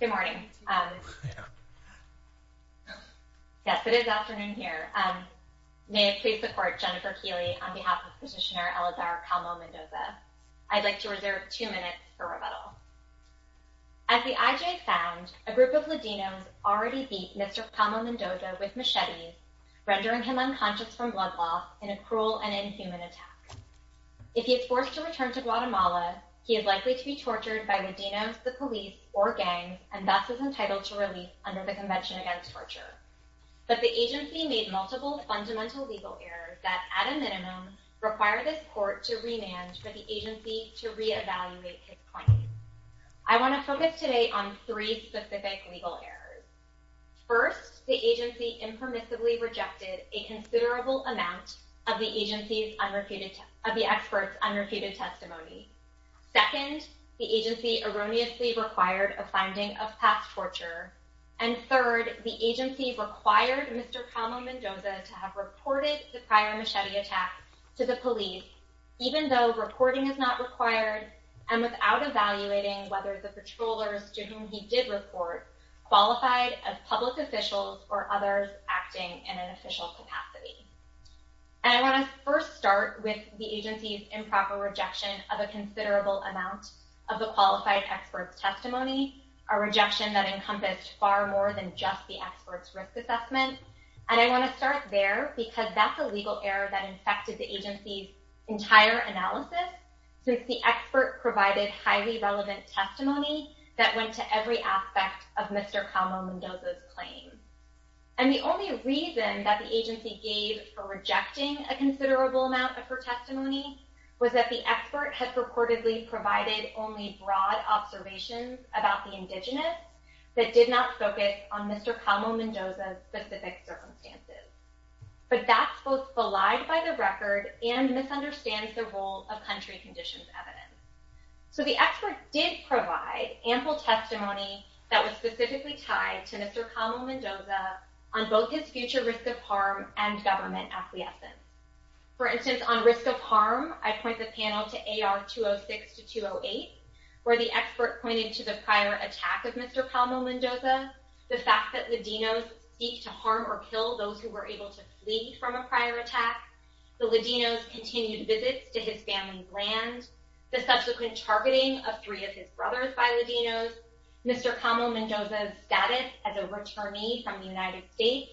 Good morning. Yes, it is afternoon here. May I please support Jennifer Keeley on behalf of petitioner Eleazar Calmo-Mendoza. I'd like to reserve two minutes for rebuttal. As the IJ found, a group of Ladinos already beat Mr. Calmo-Mendoza with machetes, rendering him unconscious from blood loss in a cruel and inhuman attack. If he is forced to return to Guatemala, he is likely to be tortured by the police or gangs, and thus is entitled to release under the Convention Against Torture. But the agency made multiple fundamental legal errors that, at a minimum, require this court to remand for the agency to re-evaluate his claim. I want to focus today on three specific legal errors. First, the agency impermissibly rejected a considerable amount of the agency's unrepeated, of the required a finding of past torture. And third, the agency required Mr. Calmo- Mendoza to have reported the prior machete attack to the police, even though reporting is not required, and without evaluating whether the patrollers to whom he did report qualified as public officials or others acting in an official capacity. And I want to first start with the agency's improper rejection of a considerable amount of the qualified expert's testimony, a rejection that encompassed far more than just the expert's risk assessment. And I want to start there because that's a legal error that infected the agency's entire analysis, since the expert provided highly relevant testimony that went to every aspect of Mr. Calmo-Mendoza's claim. And the only reason that the agency gave for rejecting a considerable amount of her testimony was that the expert had purportedly provided only broad observations about the indigenous that did not focus on Mr. Calmo-Mendoza's specific circumstances. But that's both belied by the record and misunderstands the role of country conditions evidence. So the expert did provide ample testimony that was specifically tied to Mr. Calmo-Mendoza on both his future risk of harm and government acquiescence. For instance, on risk of harm, I point the panel to AR 206 to 208, where the expert pointed to the prior attack of Mr. Calmo-Mendoza, the fact that Ladinos seek to harm or kill those who were able to flee from a prior attack, the Ladinos' continued visits to his family's land, the subsequent targeting of three of his brothers by Ladinos, Mr. Calmo-Mendoza's status as a returnee from the United States,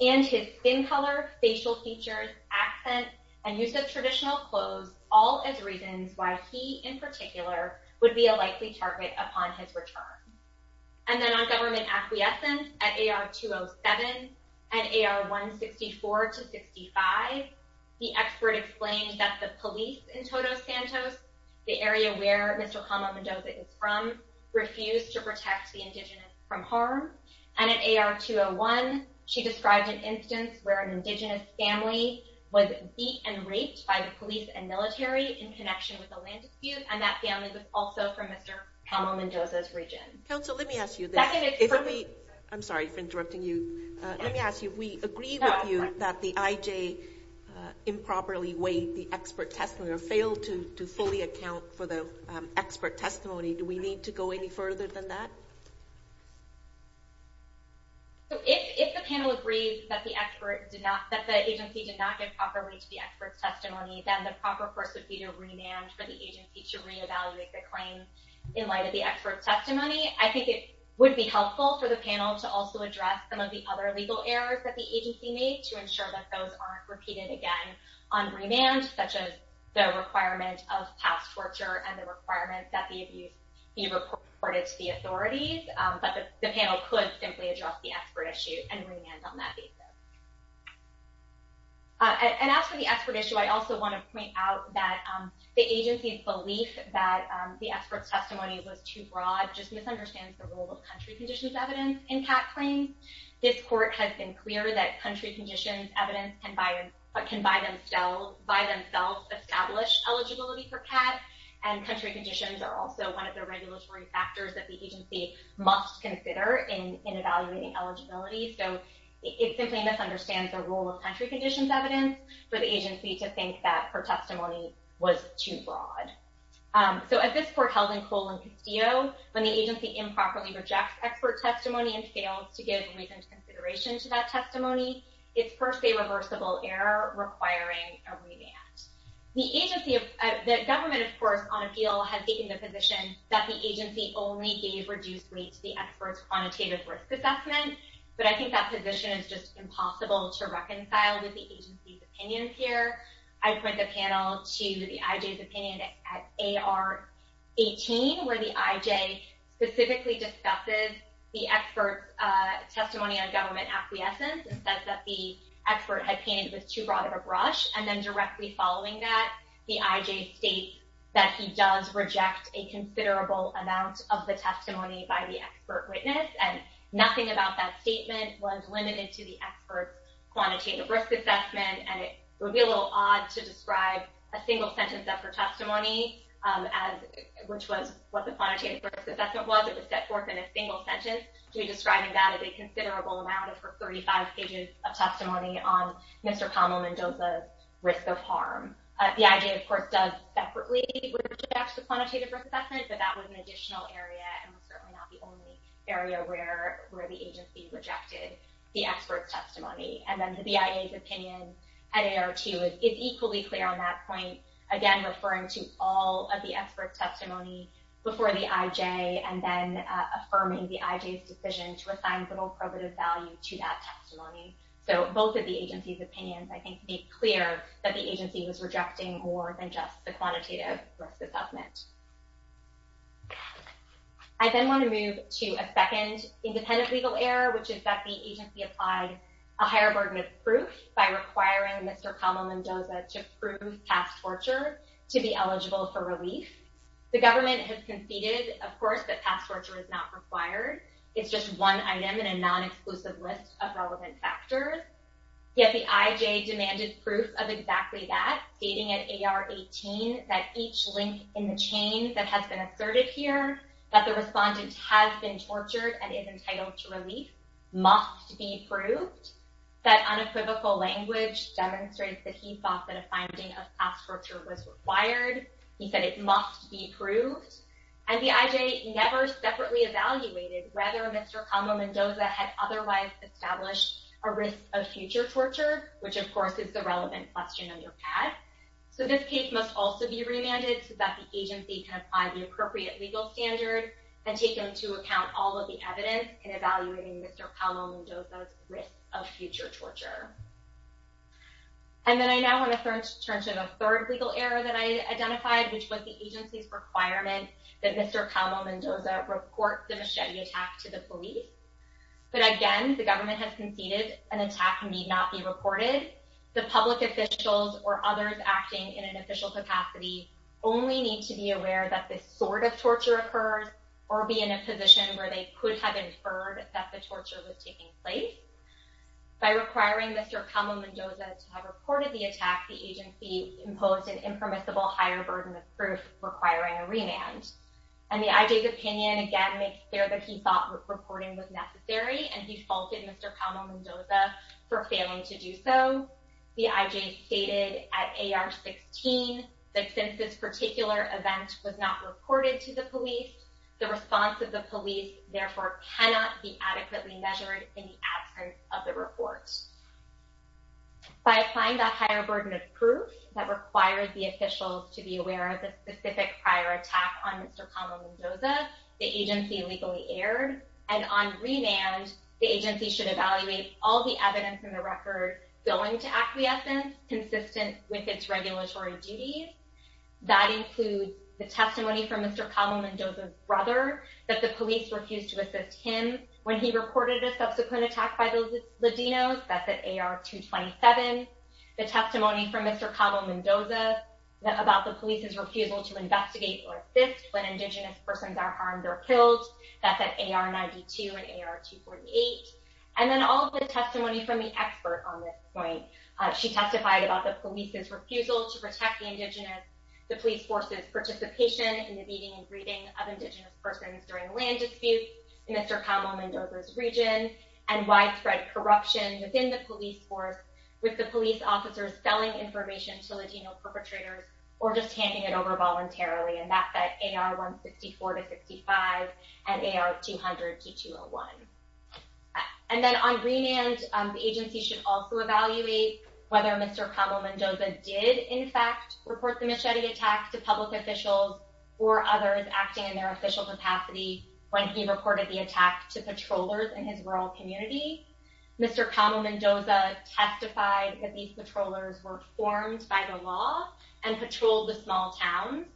Mr. Calmo-Mendoza's accent, and use of traditional clothes, all as reasons why he, in particular, would be a likely target upon his return. And then on government acquiescence, at AR 207 and AR 164 to 65, the expert explained that the police in Todos Santos, the area where Mr. Calmo-Mendoza is from, refused to protect the indigenous from harm. And at AR 201, she described an instance where an indigenous was beat and raped by the police and military in connection with the land dispute, and that family was also from Mr. Calmo-Mendoza's region. Council, let me ask you, I'm sorry for interrupting you, let me ask you, if we agree with you that the IJ improperly weighed the expert testimony, or failed to fully account for the expert testimony, do we need to go any further than that? So if the panel agrees that the expert did not, that the agency did not get properly to the expert's testimony, then the proper course would be to remand for the agency to re-evaluate the claim in light of the expert's testimony. I think it would be helpful for the panel to also address some of the other legal errors that the agency made to ensure that those aren't repeated again on remand, such as the requirement of past torture and the requirement that the abuse be reported to the authorities, but the panel could simply address the expert issue and remand on that basis. And as for the expert issue, I also want to point out that the agency's belief that the expert's testimony was too broad just misunderstands the role of country conditions evidence in CAT claims. This court has been clear that country conditions evidence can by themselves establish eligibility for CAT, and country conditions are also one of the regulatory factors that the agency must consider in evaluating eligibility, so it simply misunderstands the role of country conditions evidence for the agency to think that her testimony was too broad. So at this court held in Cole and Castillo, when the agency improperly rejects expert testimony and fails to give reasoned consideration to that testimony, it's per se reversible error requiring a remand. The government, of course, on appeal has taken the position that the agency only gave reduced weight to the expert's quantitative risk assessment, but I think that position is just impossible to reconcile with the agency's opinions here. I point the panel to the IJ's opinion at AR 18, where the IJ specifically discusses the expert's testimony on government acquiescence and says that the expert had painted it was too broad of a brush, and then directly following that, the IJ states that he does reject a considerable amount of the testimony by the expert witness, and nothing about that statement was limited to the expert's quantitative risk assessment, and it would be a little odd to describe a single sentence of her testimony, which was what the quantitative risk assessment was, it was set forth in a single sentence, to be describing that as a considerable amount of her 35 pages of testimony on Mr. Kamel Mendoza's risk of harm. The IJ, of course, rejects the quantitative risk assessment, but that was an additional area, and was certainly not the only area where the agency rejected the expert's testimony, and then the BIA's opinion at AR 2 is equally clear on that point, again, referring to all of the expert's testimony before the IJ, and then affirming the IJ's decision to assign little probative value to that testimony. So, both of the agency's opinions, I think, made clear that the agency was not going to accept the quantitative risk assessment. I then want to move to a second independent legal error, which is that the agency applied a higher burden of proof by requiring Mr. Kamel Mendoza to prove past torture to be eligible for relief. The government has conceded, of course, that past torture is not required, it's just one item in a non-exclusive list of relevant factors, yet the IJ demanded proof of exactly that, stating at AR 18 that each link in the chain that has been asserted here, that the respondent has been tortured and is entitled to relief, must be proved, that unequivocal language demonstrates that he thought that a finding of past torture was required, he said it must be proved, and the IJ never separately evaluated whether Mr. Kamel Mendoza had otherwise established a risk of future torture, which, of course, is a relevant question on your pad. So this case must also be remanded so that the agency can apply the appropriate legal standard and take into account all of the evidence in evaluating Mr. Kamel Mendoza's risk of future torture. And then I now want to turn to the third legal error that I identified, which was the agency's requirement that Mr. Kamel Mendoza report the machete attack to the police. But again, the government has conceded an attack need not be reported. The public officials or others acting in an official capacity only need to be aware that this sort of torture occurs or be in a position where they could have inferred that the torture was taking place. By requiring Mr. Kamel Mendoza to have reported the attack, the agency imposed an impermissible higher burden of proof requiring a remand. And the IJ's opinion, again, makes clear that he thought reporting was necessary, and he faulted Mr. Kamel Mendoza for failing to do so. The IJ stated at AR-16 that since this particular event was not reported to the police, the response of the police therefore cannot be adequately measured in the absence of the report. By applying that higher burden of proof that required the officials to be aware of the specific prior attack on Mr. Kamel Mendoza, the agency legally erred, and on remand, the agency should evaluate all the evidence in the record going to acquiescence consistent with its regulatory duties. That includes the testimony from Mr. Kamel Mendoza's brother that the police refused to assist him when he reported a subsequent attack by the Latinos. That's at AR-227. The testimony from Mr. Kamel Mendoza about the police's refusal to investigate or assist when AR-248. And then all of the testimony from the expert on this point. She testified about the police's refusal to protect the Indigenous, the police force's participation in the beating and breeding of Indigenous persons during land disputes in Mr. Kamel Mendoza's region, and widespread corruption within the police force with the police officers selling information to Latino perpetrators or just handing it over voluntarily. And that's at AR-164-65 and AR-200-201. And then on remand, the agency should also evaluate whether Mr. Kamel Mendoza did, in fact, report the machete attack to public officials or others acting in their official capacity when he reported the attack to patrollers in his rural community. Mr. Kamel Mendoza testified that these patrollers were formed by the law and patrolled the small towns,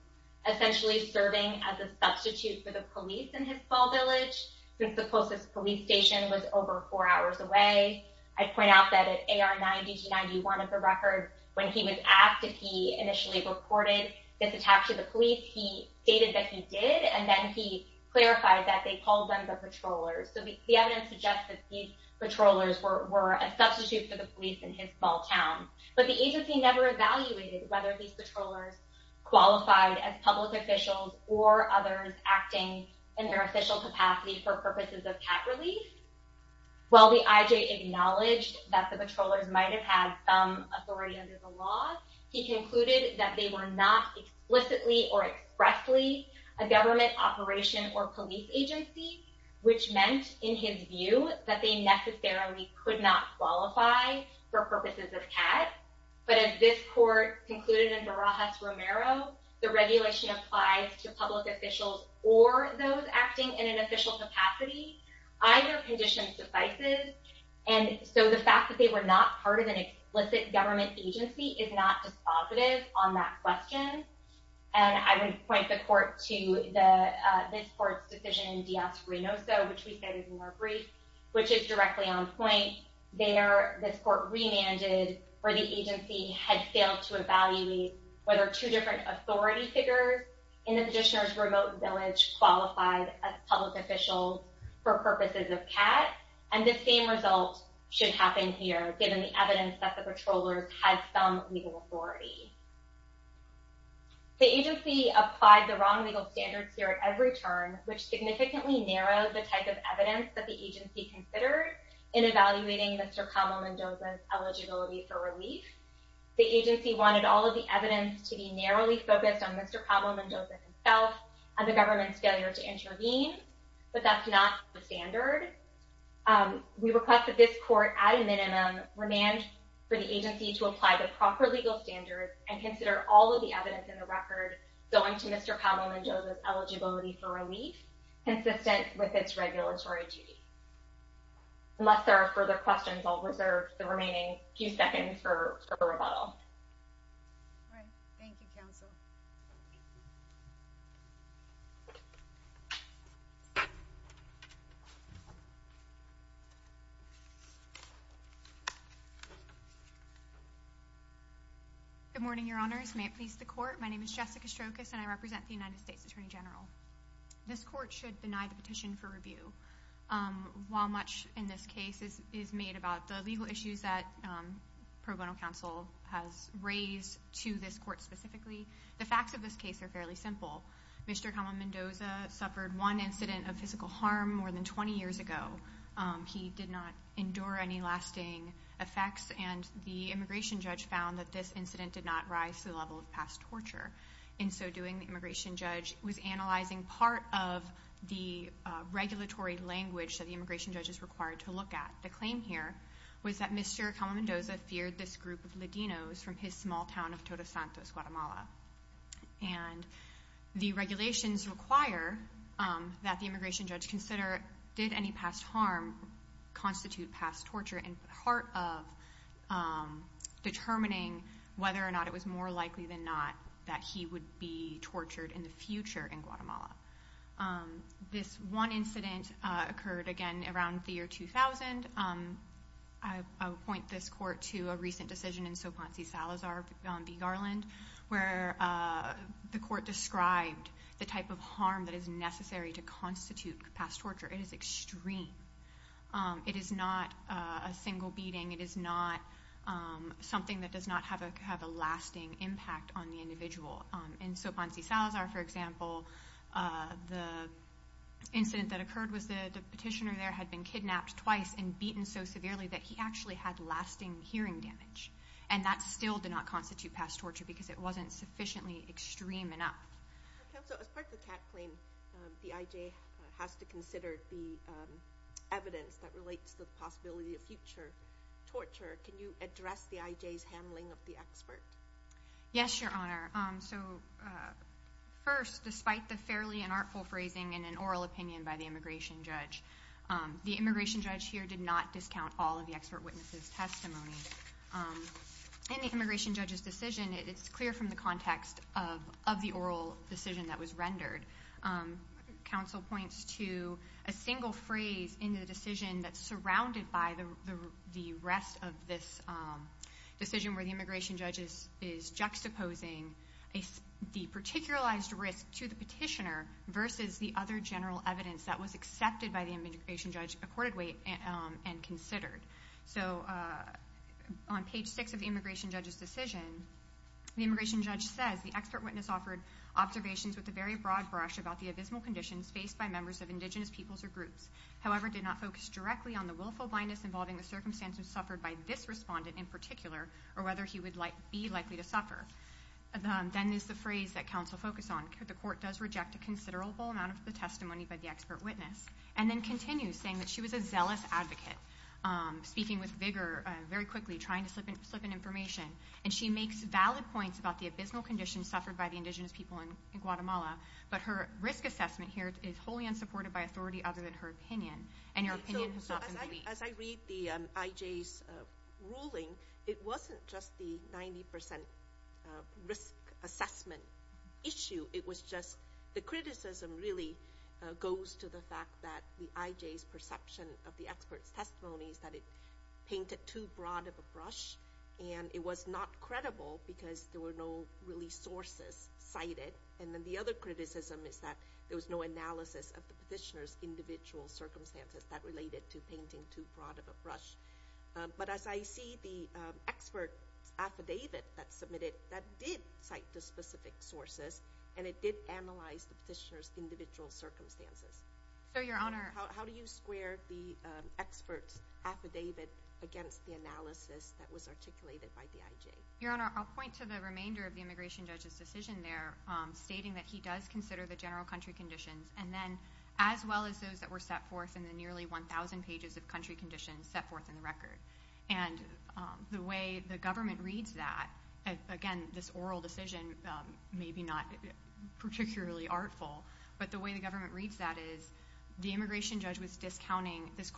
essentially serving as a substitute for the police in his small village since the closest police station was over four hours away. I point out that at AR-90-91 of the record, when he was asked if he initially reported this attack to the police, he stated that he did, and then he clarified that they called them the patrollers. So the evidence suggests that these patrollers were a substitute for the police in his small town. But the agency never evaluated whether these patrollers qualified as public officials or others acting in their official capacity for purposes of cat relief. While the IJ acknowledged that the patrollers might have had some authority under the law, he concluded that they were not explicitly or expressly a government operation or police agency, which meant in his view that they necessarily could not qualify for purposes of cat. But as this court concluded in Barajas-Romero, the regulation applies to public officials or those acting in an official capacity. Either condition suffices. And so the fact that they were not part of an explicit government agency is not dispositive on that question. And I would point the court to this court's decision in Díaz-Reynoso, which we cited in our brief, which is directly on point. There, this court remanded where the agency had failed to evaluate whether two different authority figures in the petitioner's remote village qualified as public officials for purposes of cat. And the same result should happen here, given the evidence that the patrollers had some legal authority. The agency applied the wrong legal standards here at every turn, which significantly narrowed the type of evidence that the agency considered in evaluating Mr. Kamel Mendoza's eligibility for relief. The agency wanted all of the evidence to be narrowly focused on Mr. Kamel Mendoza himself and the government's failure to intervene, but that's not the standard. We request that this court, at a minimum, remand for the agency to apply the proper legal standards and consider all of the evidence in the record going to Mr. Kamel Mendoza's eligibility for relief, consistent with its regulatory duty. Unless there are further questions, I'll reserve the remaining few seconds for a rebuttal. Thank you. Good morning, Your Honors. May it please the court, my name is Jessica Strokis, and I represent the United States Attorney General. This court should deny the petition for review. While much in this case is made about the legal issues that pro bono counsel has raised to this court specifically, the facts of this case are fairly simple. Mr. Kamel Mendoza suffered one incident of physical harm more than 20 years ago. He did not endure any lasting effects, and the immigration judge found that this incident did not rise to the level of past torture. In so doing, the immigration judge was analyzing part of the regulatory language that the immigration judge is required to look at. The claim here was that Mr. Kamel Mendoza feared this group of Ladinos from his small town of Todos Santos, Guatemala. And the regulations require that the immigration judge consider did any past harm constitute past torture in part of determining whether or not it was more likely than not that he would be tortured in the future in Guatemala. This one incident occurred again around the year 2000. I'll point this court to a recent decision in Sopanci-Salazar v. Garland, where the court described the type of harm that is necessary to constitute past torture. It is extreme. It is not a single beating. It is not something that does not have a lasting impact on the individual. In Sopanci-Salazar, for example, the incident that occurred was the kidnapped twice and beaten so severely that he actually had lasting hearing damage. And that still did not constitute past torture because it wasn't sufficiently extreme enough. Counsel, as part of the CAC claim, the IJ has to consider the evidence that relates to the possibility of future torture. Can you address the IJ's handling of the expert? Yes, Your Honor. So first, despite the fairly unartful phrasing and an oral opinion by the immigration judge, the immigration judge here did not discount all of the expert witnesses' testimony. In the immigration judge's decision, it's clear from the context of the oral decision that was rendered. Counsel points to a single phrase in the decision that's surrounded by the rest of this decision where the immigration judge is juxtaposing the particularized risk to the immigration judge accordingly and considered. So on page six of the immigration judge's decision, the immigration judge says the expert witness offered observations with a very broad brush about the abysmal conditions faced by members of indigenous peoples or groups, however, did not focus directly on the willful blindness involving the circumstances suffered by this respondent in particular or whether he would be likely to suffer. Then there's the phrase that counsel focused on. The court does reject a considerable amount of the testimony by the expert witness. And then continues saying that she was a zealous advocate, speaking with vigor very quickly, trying to slip in information. And she makes valid points about the abysmal conditions suffered by the indigenous people in Guatemala, but her risk assessment here is wholly unsupported by authority other than her opinion. And your opinion has not been released. As I read the IJ's ruling, it wasn't just the IJ's perception of the expert's testimonies that it painted too broad of a brush and it was not credible because there were no really sources cited. And then the other criticism is that there was no analysis of the petitioner's individual circumstances that related to painting too broad of a brush. But as I see the expert affidavit that submitted that did cite the specific sources and it did analyze the petitioner's individual circumstances. So your honor, how do you square the expert's affidavit against the analysis that was articulated by the IJ? Your honor, I'll point to the remainder of the immigration judge's decision there stating that he does consider the general country conditions and then as well as those that were set forth in the nearly 1,000 pages of country conditions set forth in the record. And the way the government reads that, again this oral decision may be not particularly artful, but the way the government reads that is the immigration judge was discounting this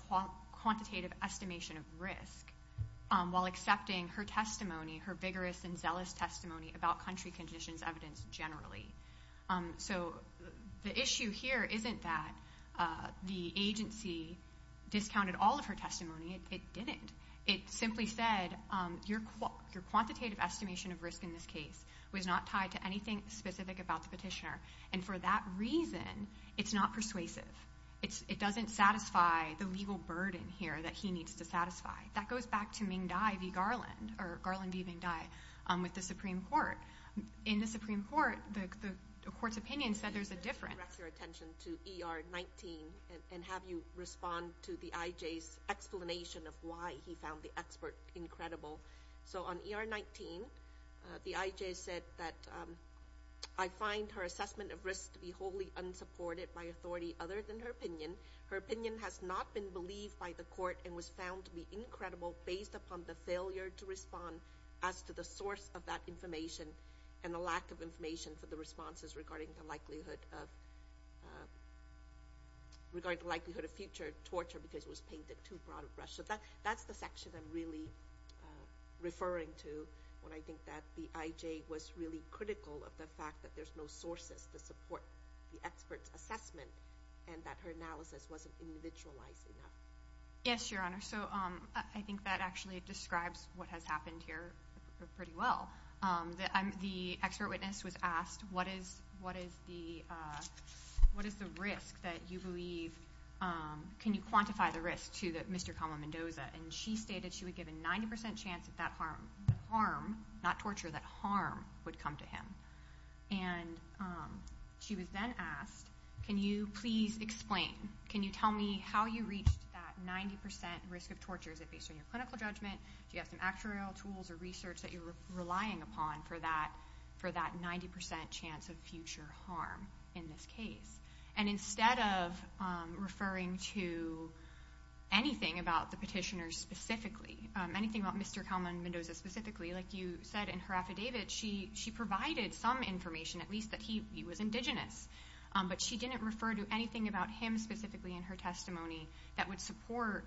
quantitative estimation of risk while accepting her testimony, her vigorous and zealous testimony about country conditions evidence generally. So the issue here isn't that the agency discounted all of her testimony, it didn't. It simply said your quantitative estimation of risk in this case was not tied to anything specific about the petitioner. And for that reason, it's not persuasive. It doesn't satisfy the legal burden here that he needs to satisfy. That goes back to Ming Dai v. Garland or Garland v. Ming Dai with the Supreme Court. In the Supreme Court, the court's opinion said there's a difference. Let me direct your attention to ER 19 and have you respond to the IJ's explanation of why he found the expert incredible. So on ER 19, the IJ said that I find her assessment of risk to be wholly unsupported by authority other than her opinion. Her opinion has not been believed by the court and was found to be incredible based upon the failure to respond as to the source of that information and the lack of information for the responses regarding the likelihood of future torture because it was painted too out of brush. So that's the section I'm really referring to when I think that the IJ was really critical of the fact that there's no sources to support the expert's assessment and that her analysis wasn't individualized enough. Yes, Your Honor. So I think that actually describes what has happened here pretty well. The expert witness was asked, what is the risk that you believe, can you quantify the risk to that Mr. Kamala Mendoza? And she stated she would give a 90% chance that that harm, not torture, that harm would come to him. And she was then asked, can you please explain, can you tell me how you reached that 90% risk of torture? Is it based on your clinical judgment? Do you have some actuarial tools or research that you're relying upon for that 90% chance of future harm in this case? And instead of referring to anything about the petitioner specifically, anything about Mr. Kamala Mendoza specifically, like you said in her affidavit, she provided some information, at least that he was indigenous. But she didn't refer to anything about him specifically in her testimony that would support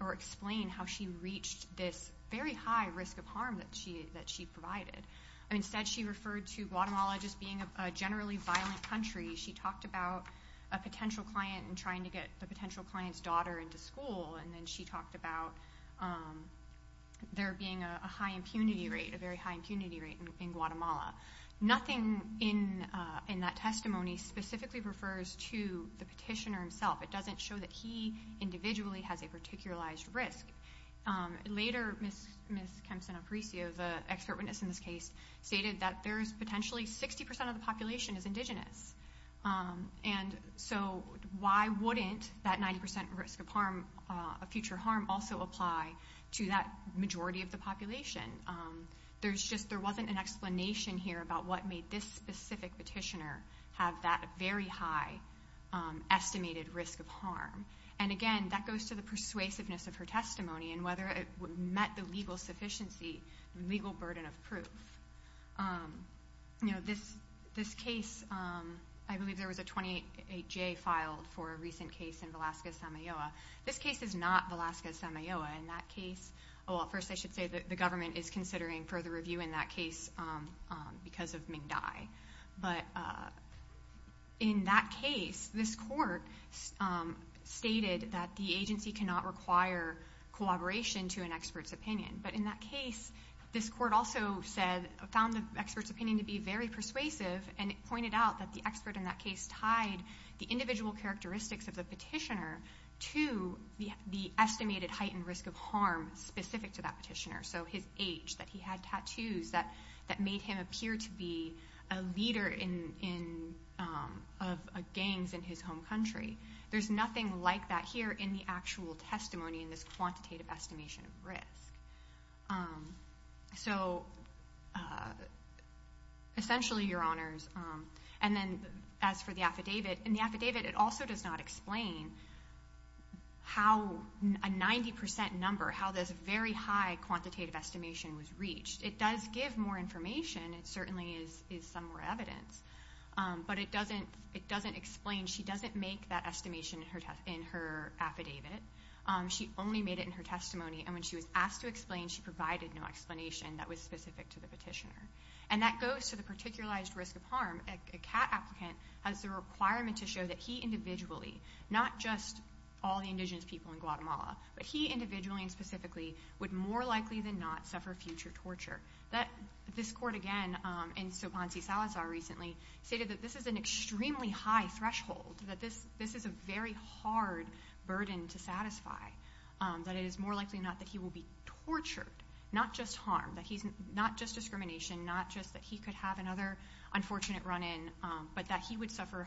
or explain how she reached this very high risk of harm that she provided. Instead, she referred to Guatemala just being a generally violent country. She talked about a potential client and trying to get the potential client's daughter into school. And then she talked about there being a high impunity rate, a very high impunity rate in Guatemala. Nothing in that testimony specifically refers to the Ms. Kempson-Aparicio, the expert witness in this case, stated that there's potentially 60% of the population is indigenous. And so why wouldn't that 90% risk of future harm also apply to that majority of the population? There wasn't an explanation here about what made this specific petitioner have that very high estimated risk of harm. And again, that goes to the persuasiveness of her testimony and whether it met the legal sufficiency, the legal burden of proof. You know, this case, I believe there was a 28-J filed for a recent case in Valasca, Samayoa. This case is not Valasca, Samayoa. In that case, well, first I should say that the government is considering further review in that case because of Ming Dai. But in that case, this court stated that the agency cannot require collaboration to an expert's opinion. But in that case, this court also found the expert's opinion to be very persuasive and pointed out that the expert in that case tied the individual characteristics of the petitioner to the estimated heightened risk of harm specific to that petitioner. So his age, that he had tattoos that made him appear to be a leader of gangs in his home country. There's nothing like that here in the actual testimony in this quantitative estimation of risk. So essentially, Your Honors, and then as for the affidavit, in the affidavit it also does not explain how a 90% number, how this very high quantitative estimation was reached. It does give more information. It certainly is some more evidence. But it doesn't explain, she doesn't make that estimation in her affidavit. She only made it in her testimony. And when she was asked to explain, she provided no explanation that was specific to the petitioner. And that goes to the all the indigenous people in Guatemala. But he, individually and specifically, would more likely than not suffer future torture. This court again, and so Ponce Salazar recently, stated that this is an extremely high threshold. That this is a very hard burden to satisfy. That it is more likely than not that he will be tortured. Not just harm. Not just discrimination. Not just that he could have another unfortunate run in. But that he would suffer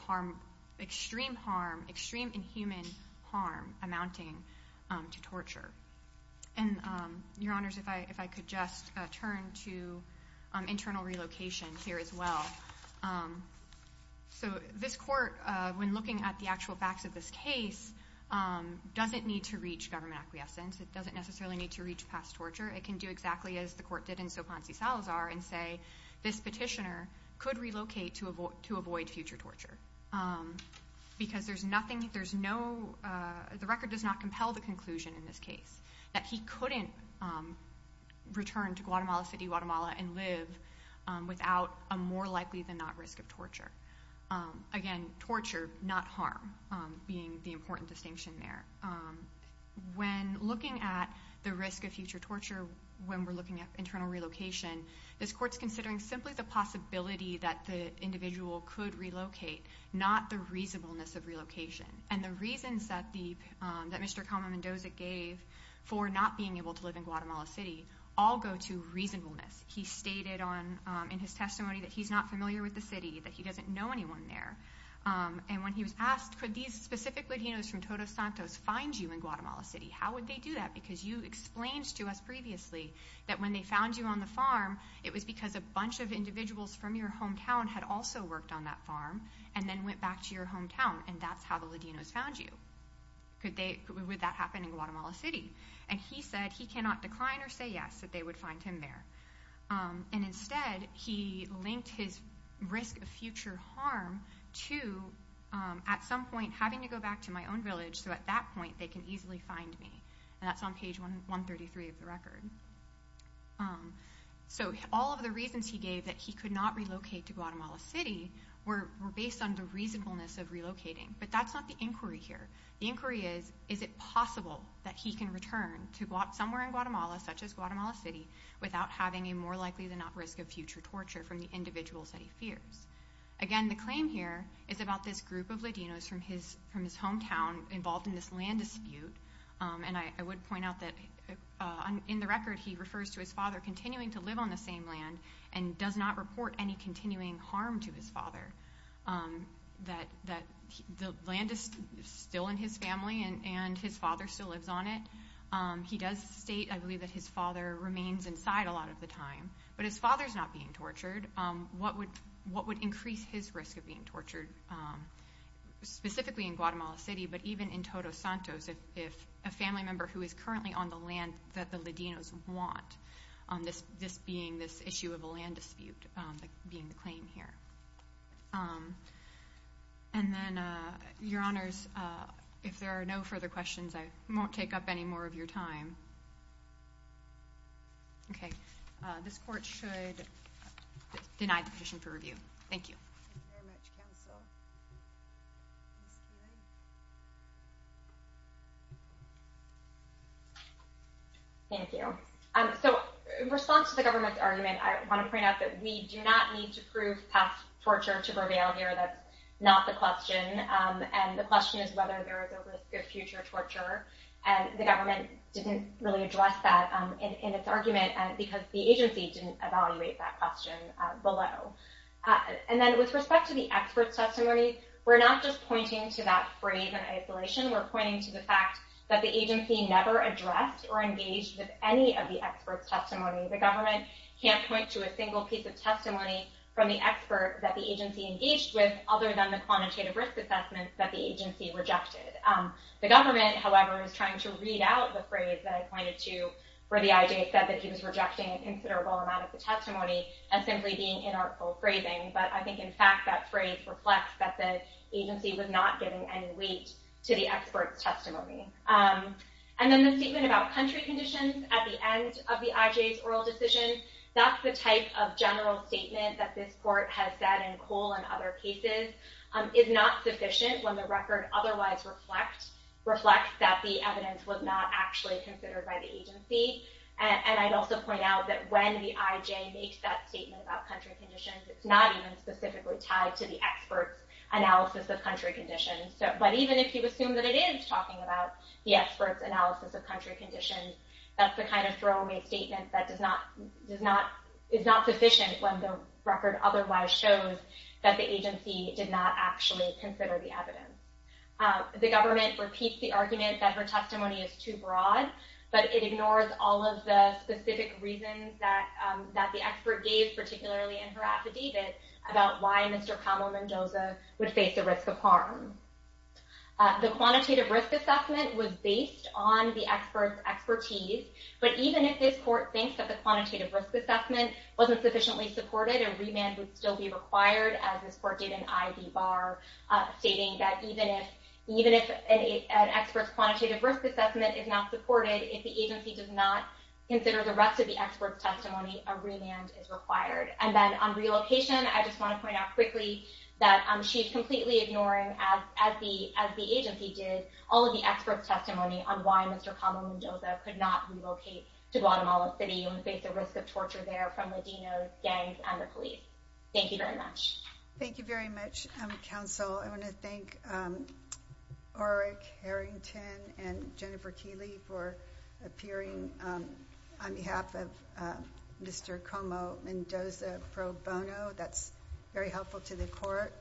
extreme harm, extreme inhuman harm amounting to torture. And Your Honors, if I could just turn to internal relocation here as well. So this court, when looking at the actual facts of this case, doesn't need to reach government acquiescence. It doesn't necessarily need to reach past torture. It can do exactly as the court did in so Ponce Salazar and say, this petitioner could relocate to avoid future torture. Because the record does not compel the conclusion in this case that he couldn't return to Guatemala City, Guatemala and live without a more likely than not risk of torture. Again, torture, not harm being the important distinction there. When looking at the risk of future torture, when we're looking at internal relocation, this court's considering simply the possibility that the individual could relocate, not the reasonableness of relocation. And the reasons that Mr. Kama Mendoza gave for not being able to live in Guatemala City all go to reasonableness. He stated in his testimony that he's not familiar with the city. That he doesn't know anyone there. And when he was asked, could these specific Latinos from Todos Santos find you in Guatemala City? How would they do that? Because you explained to us previously that when they found you on the farm, it was because a bunch of individuals from your hometown had also worked on that farm and then went back to your hometown. And that's how the Latinos found you. Would that happen in Guatemala City? And he said he cannot decline or say yes that they would find him there. And instead, he linked his risk of future harm to at some point having to go back to my own And that's on page 133 of the record. So all of the reasons he gave that he could not relocate to Guatemala City were based on the reasonableness of relocating. But that's not the inquiry here. The inquiry is, is it possible that he can return to somewhere in Guatemala, such as Guatemala City, without having a more likely than not risk of future torture from the individuals that he fears? Again, the claim here is about this group of Latinos from his hometown involved in this dispute. And I would point out that in the record, he refers to his father continuing to live on the same land and does not report any continuing harm to his father. That the land is still in his family and his father still lives on it. He does state, I believe, that his father remains inside a lot of the time. But his father's not being tortured. What would increase his risk of being tortured? Specifically in Guatemala City, but even in Todos Santos, if a family member who is currently on the land that the Latinos want, this being this issue of a land dispute being the claim here. And then, your honors, if there are no further questions, I won't take up any of your time. Okay, this court should deny the petition for review. Thank you. Thank you. So, in response to the government's argument, I want to point out that we do not need to prove past torture to prevail here. That's not the question. And the question is whether there was any evidence that the government didn't really address that in its argument because the agency didn't evaluate that question below. And then, with respect to the expert's testimony, we're not just pointing to that phrase in isolation. We're pointing to the fact that the agency never addressed or engaged with any of the expert's testimony. The government can't point to a single piece of testimony from the expert that the agency engaged with, other than the quantitative risk assessment that the agency rejected. The government, however, is trying to read out the phrase that I pointed to where the IJ said that he was rejecting an considerable amount of the testimony as simply being inarticulate phrasing. But I think, in fact, that phrase reflects that the agency was not giving any weight to the expert's testimony. And then, the statement about country conditions at the end of the IJ's oral decision, that's the type of general statement that this is not sufficient when the record otherwise reflects that the evidence was not actually considered by the agency. And I'd also point out that when the IJ makes that statement about country conditions, it's not even specifically tied to the expert's analysis of country conditions. But even if you assume that it is talking about the expert's analysis of country conditions, that's the kind of throwaway statement that is not sufficient when the record otherwise shows that the agency did not actually consider the evidence. The government repeats the argument that her testimony is too broad, but it ignores all of the specific reasons that the expert gave, particularly in her affidavit, about why Mr. Kamel Mendoza would face the risk of harm. The quantitative risk assessment was based on the expert's expertise, but even if this court thinks that the quantitative risk assessment wasn't sufficiently supported, a remand would be required, as this court did in I.B. Barr, stating that even if an expert's quantitative risk assessment is not supported, if the agency does not consider the rest of the expert's testimony, a remand is required. And then on relocation, I just want to point out quickly that she's completely ignoring, as the agency did, all of the expert's testimony on why Mr. Kamel Mendoza could not relocate to Guatemala City and face the risk of torture there from Latinos, gangs, and the police. Thank you very much. Thank you very much, counsel. I want to thank Arik Harrington and Jennifer Keeley for appearing on behalf of Mr. Kamel Mendoza pro bono. That's very helpful to the court.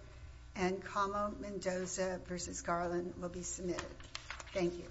And Kamel Mendoza v. Garland will be submitted. Thank you.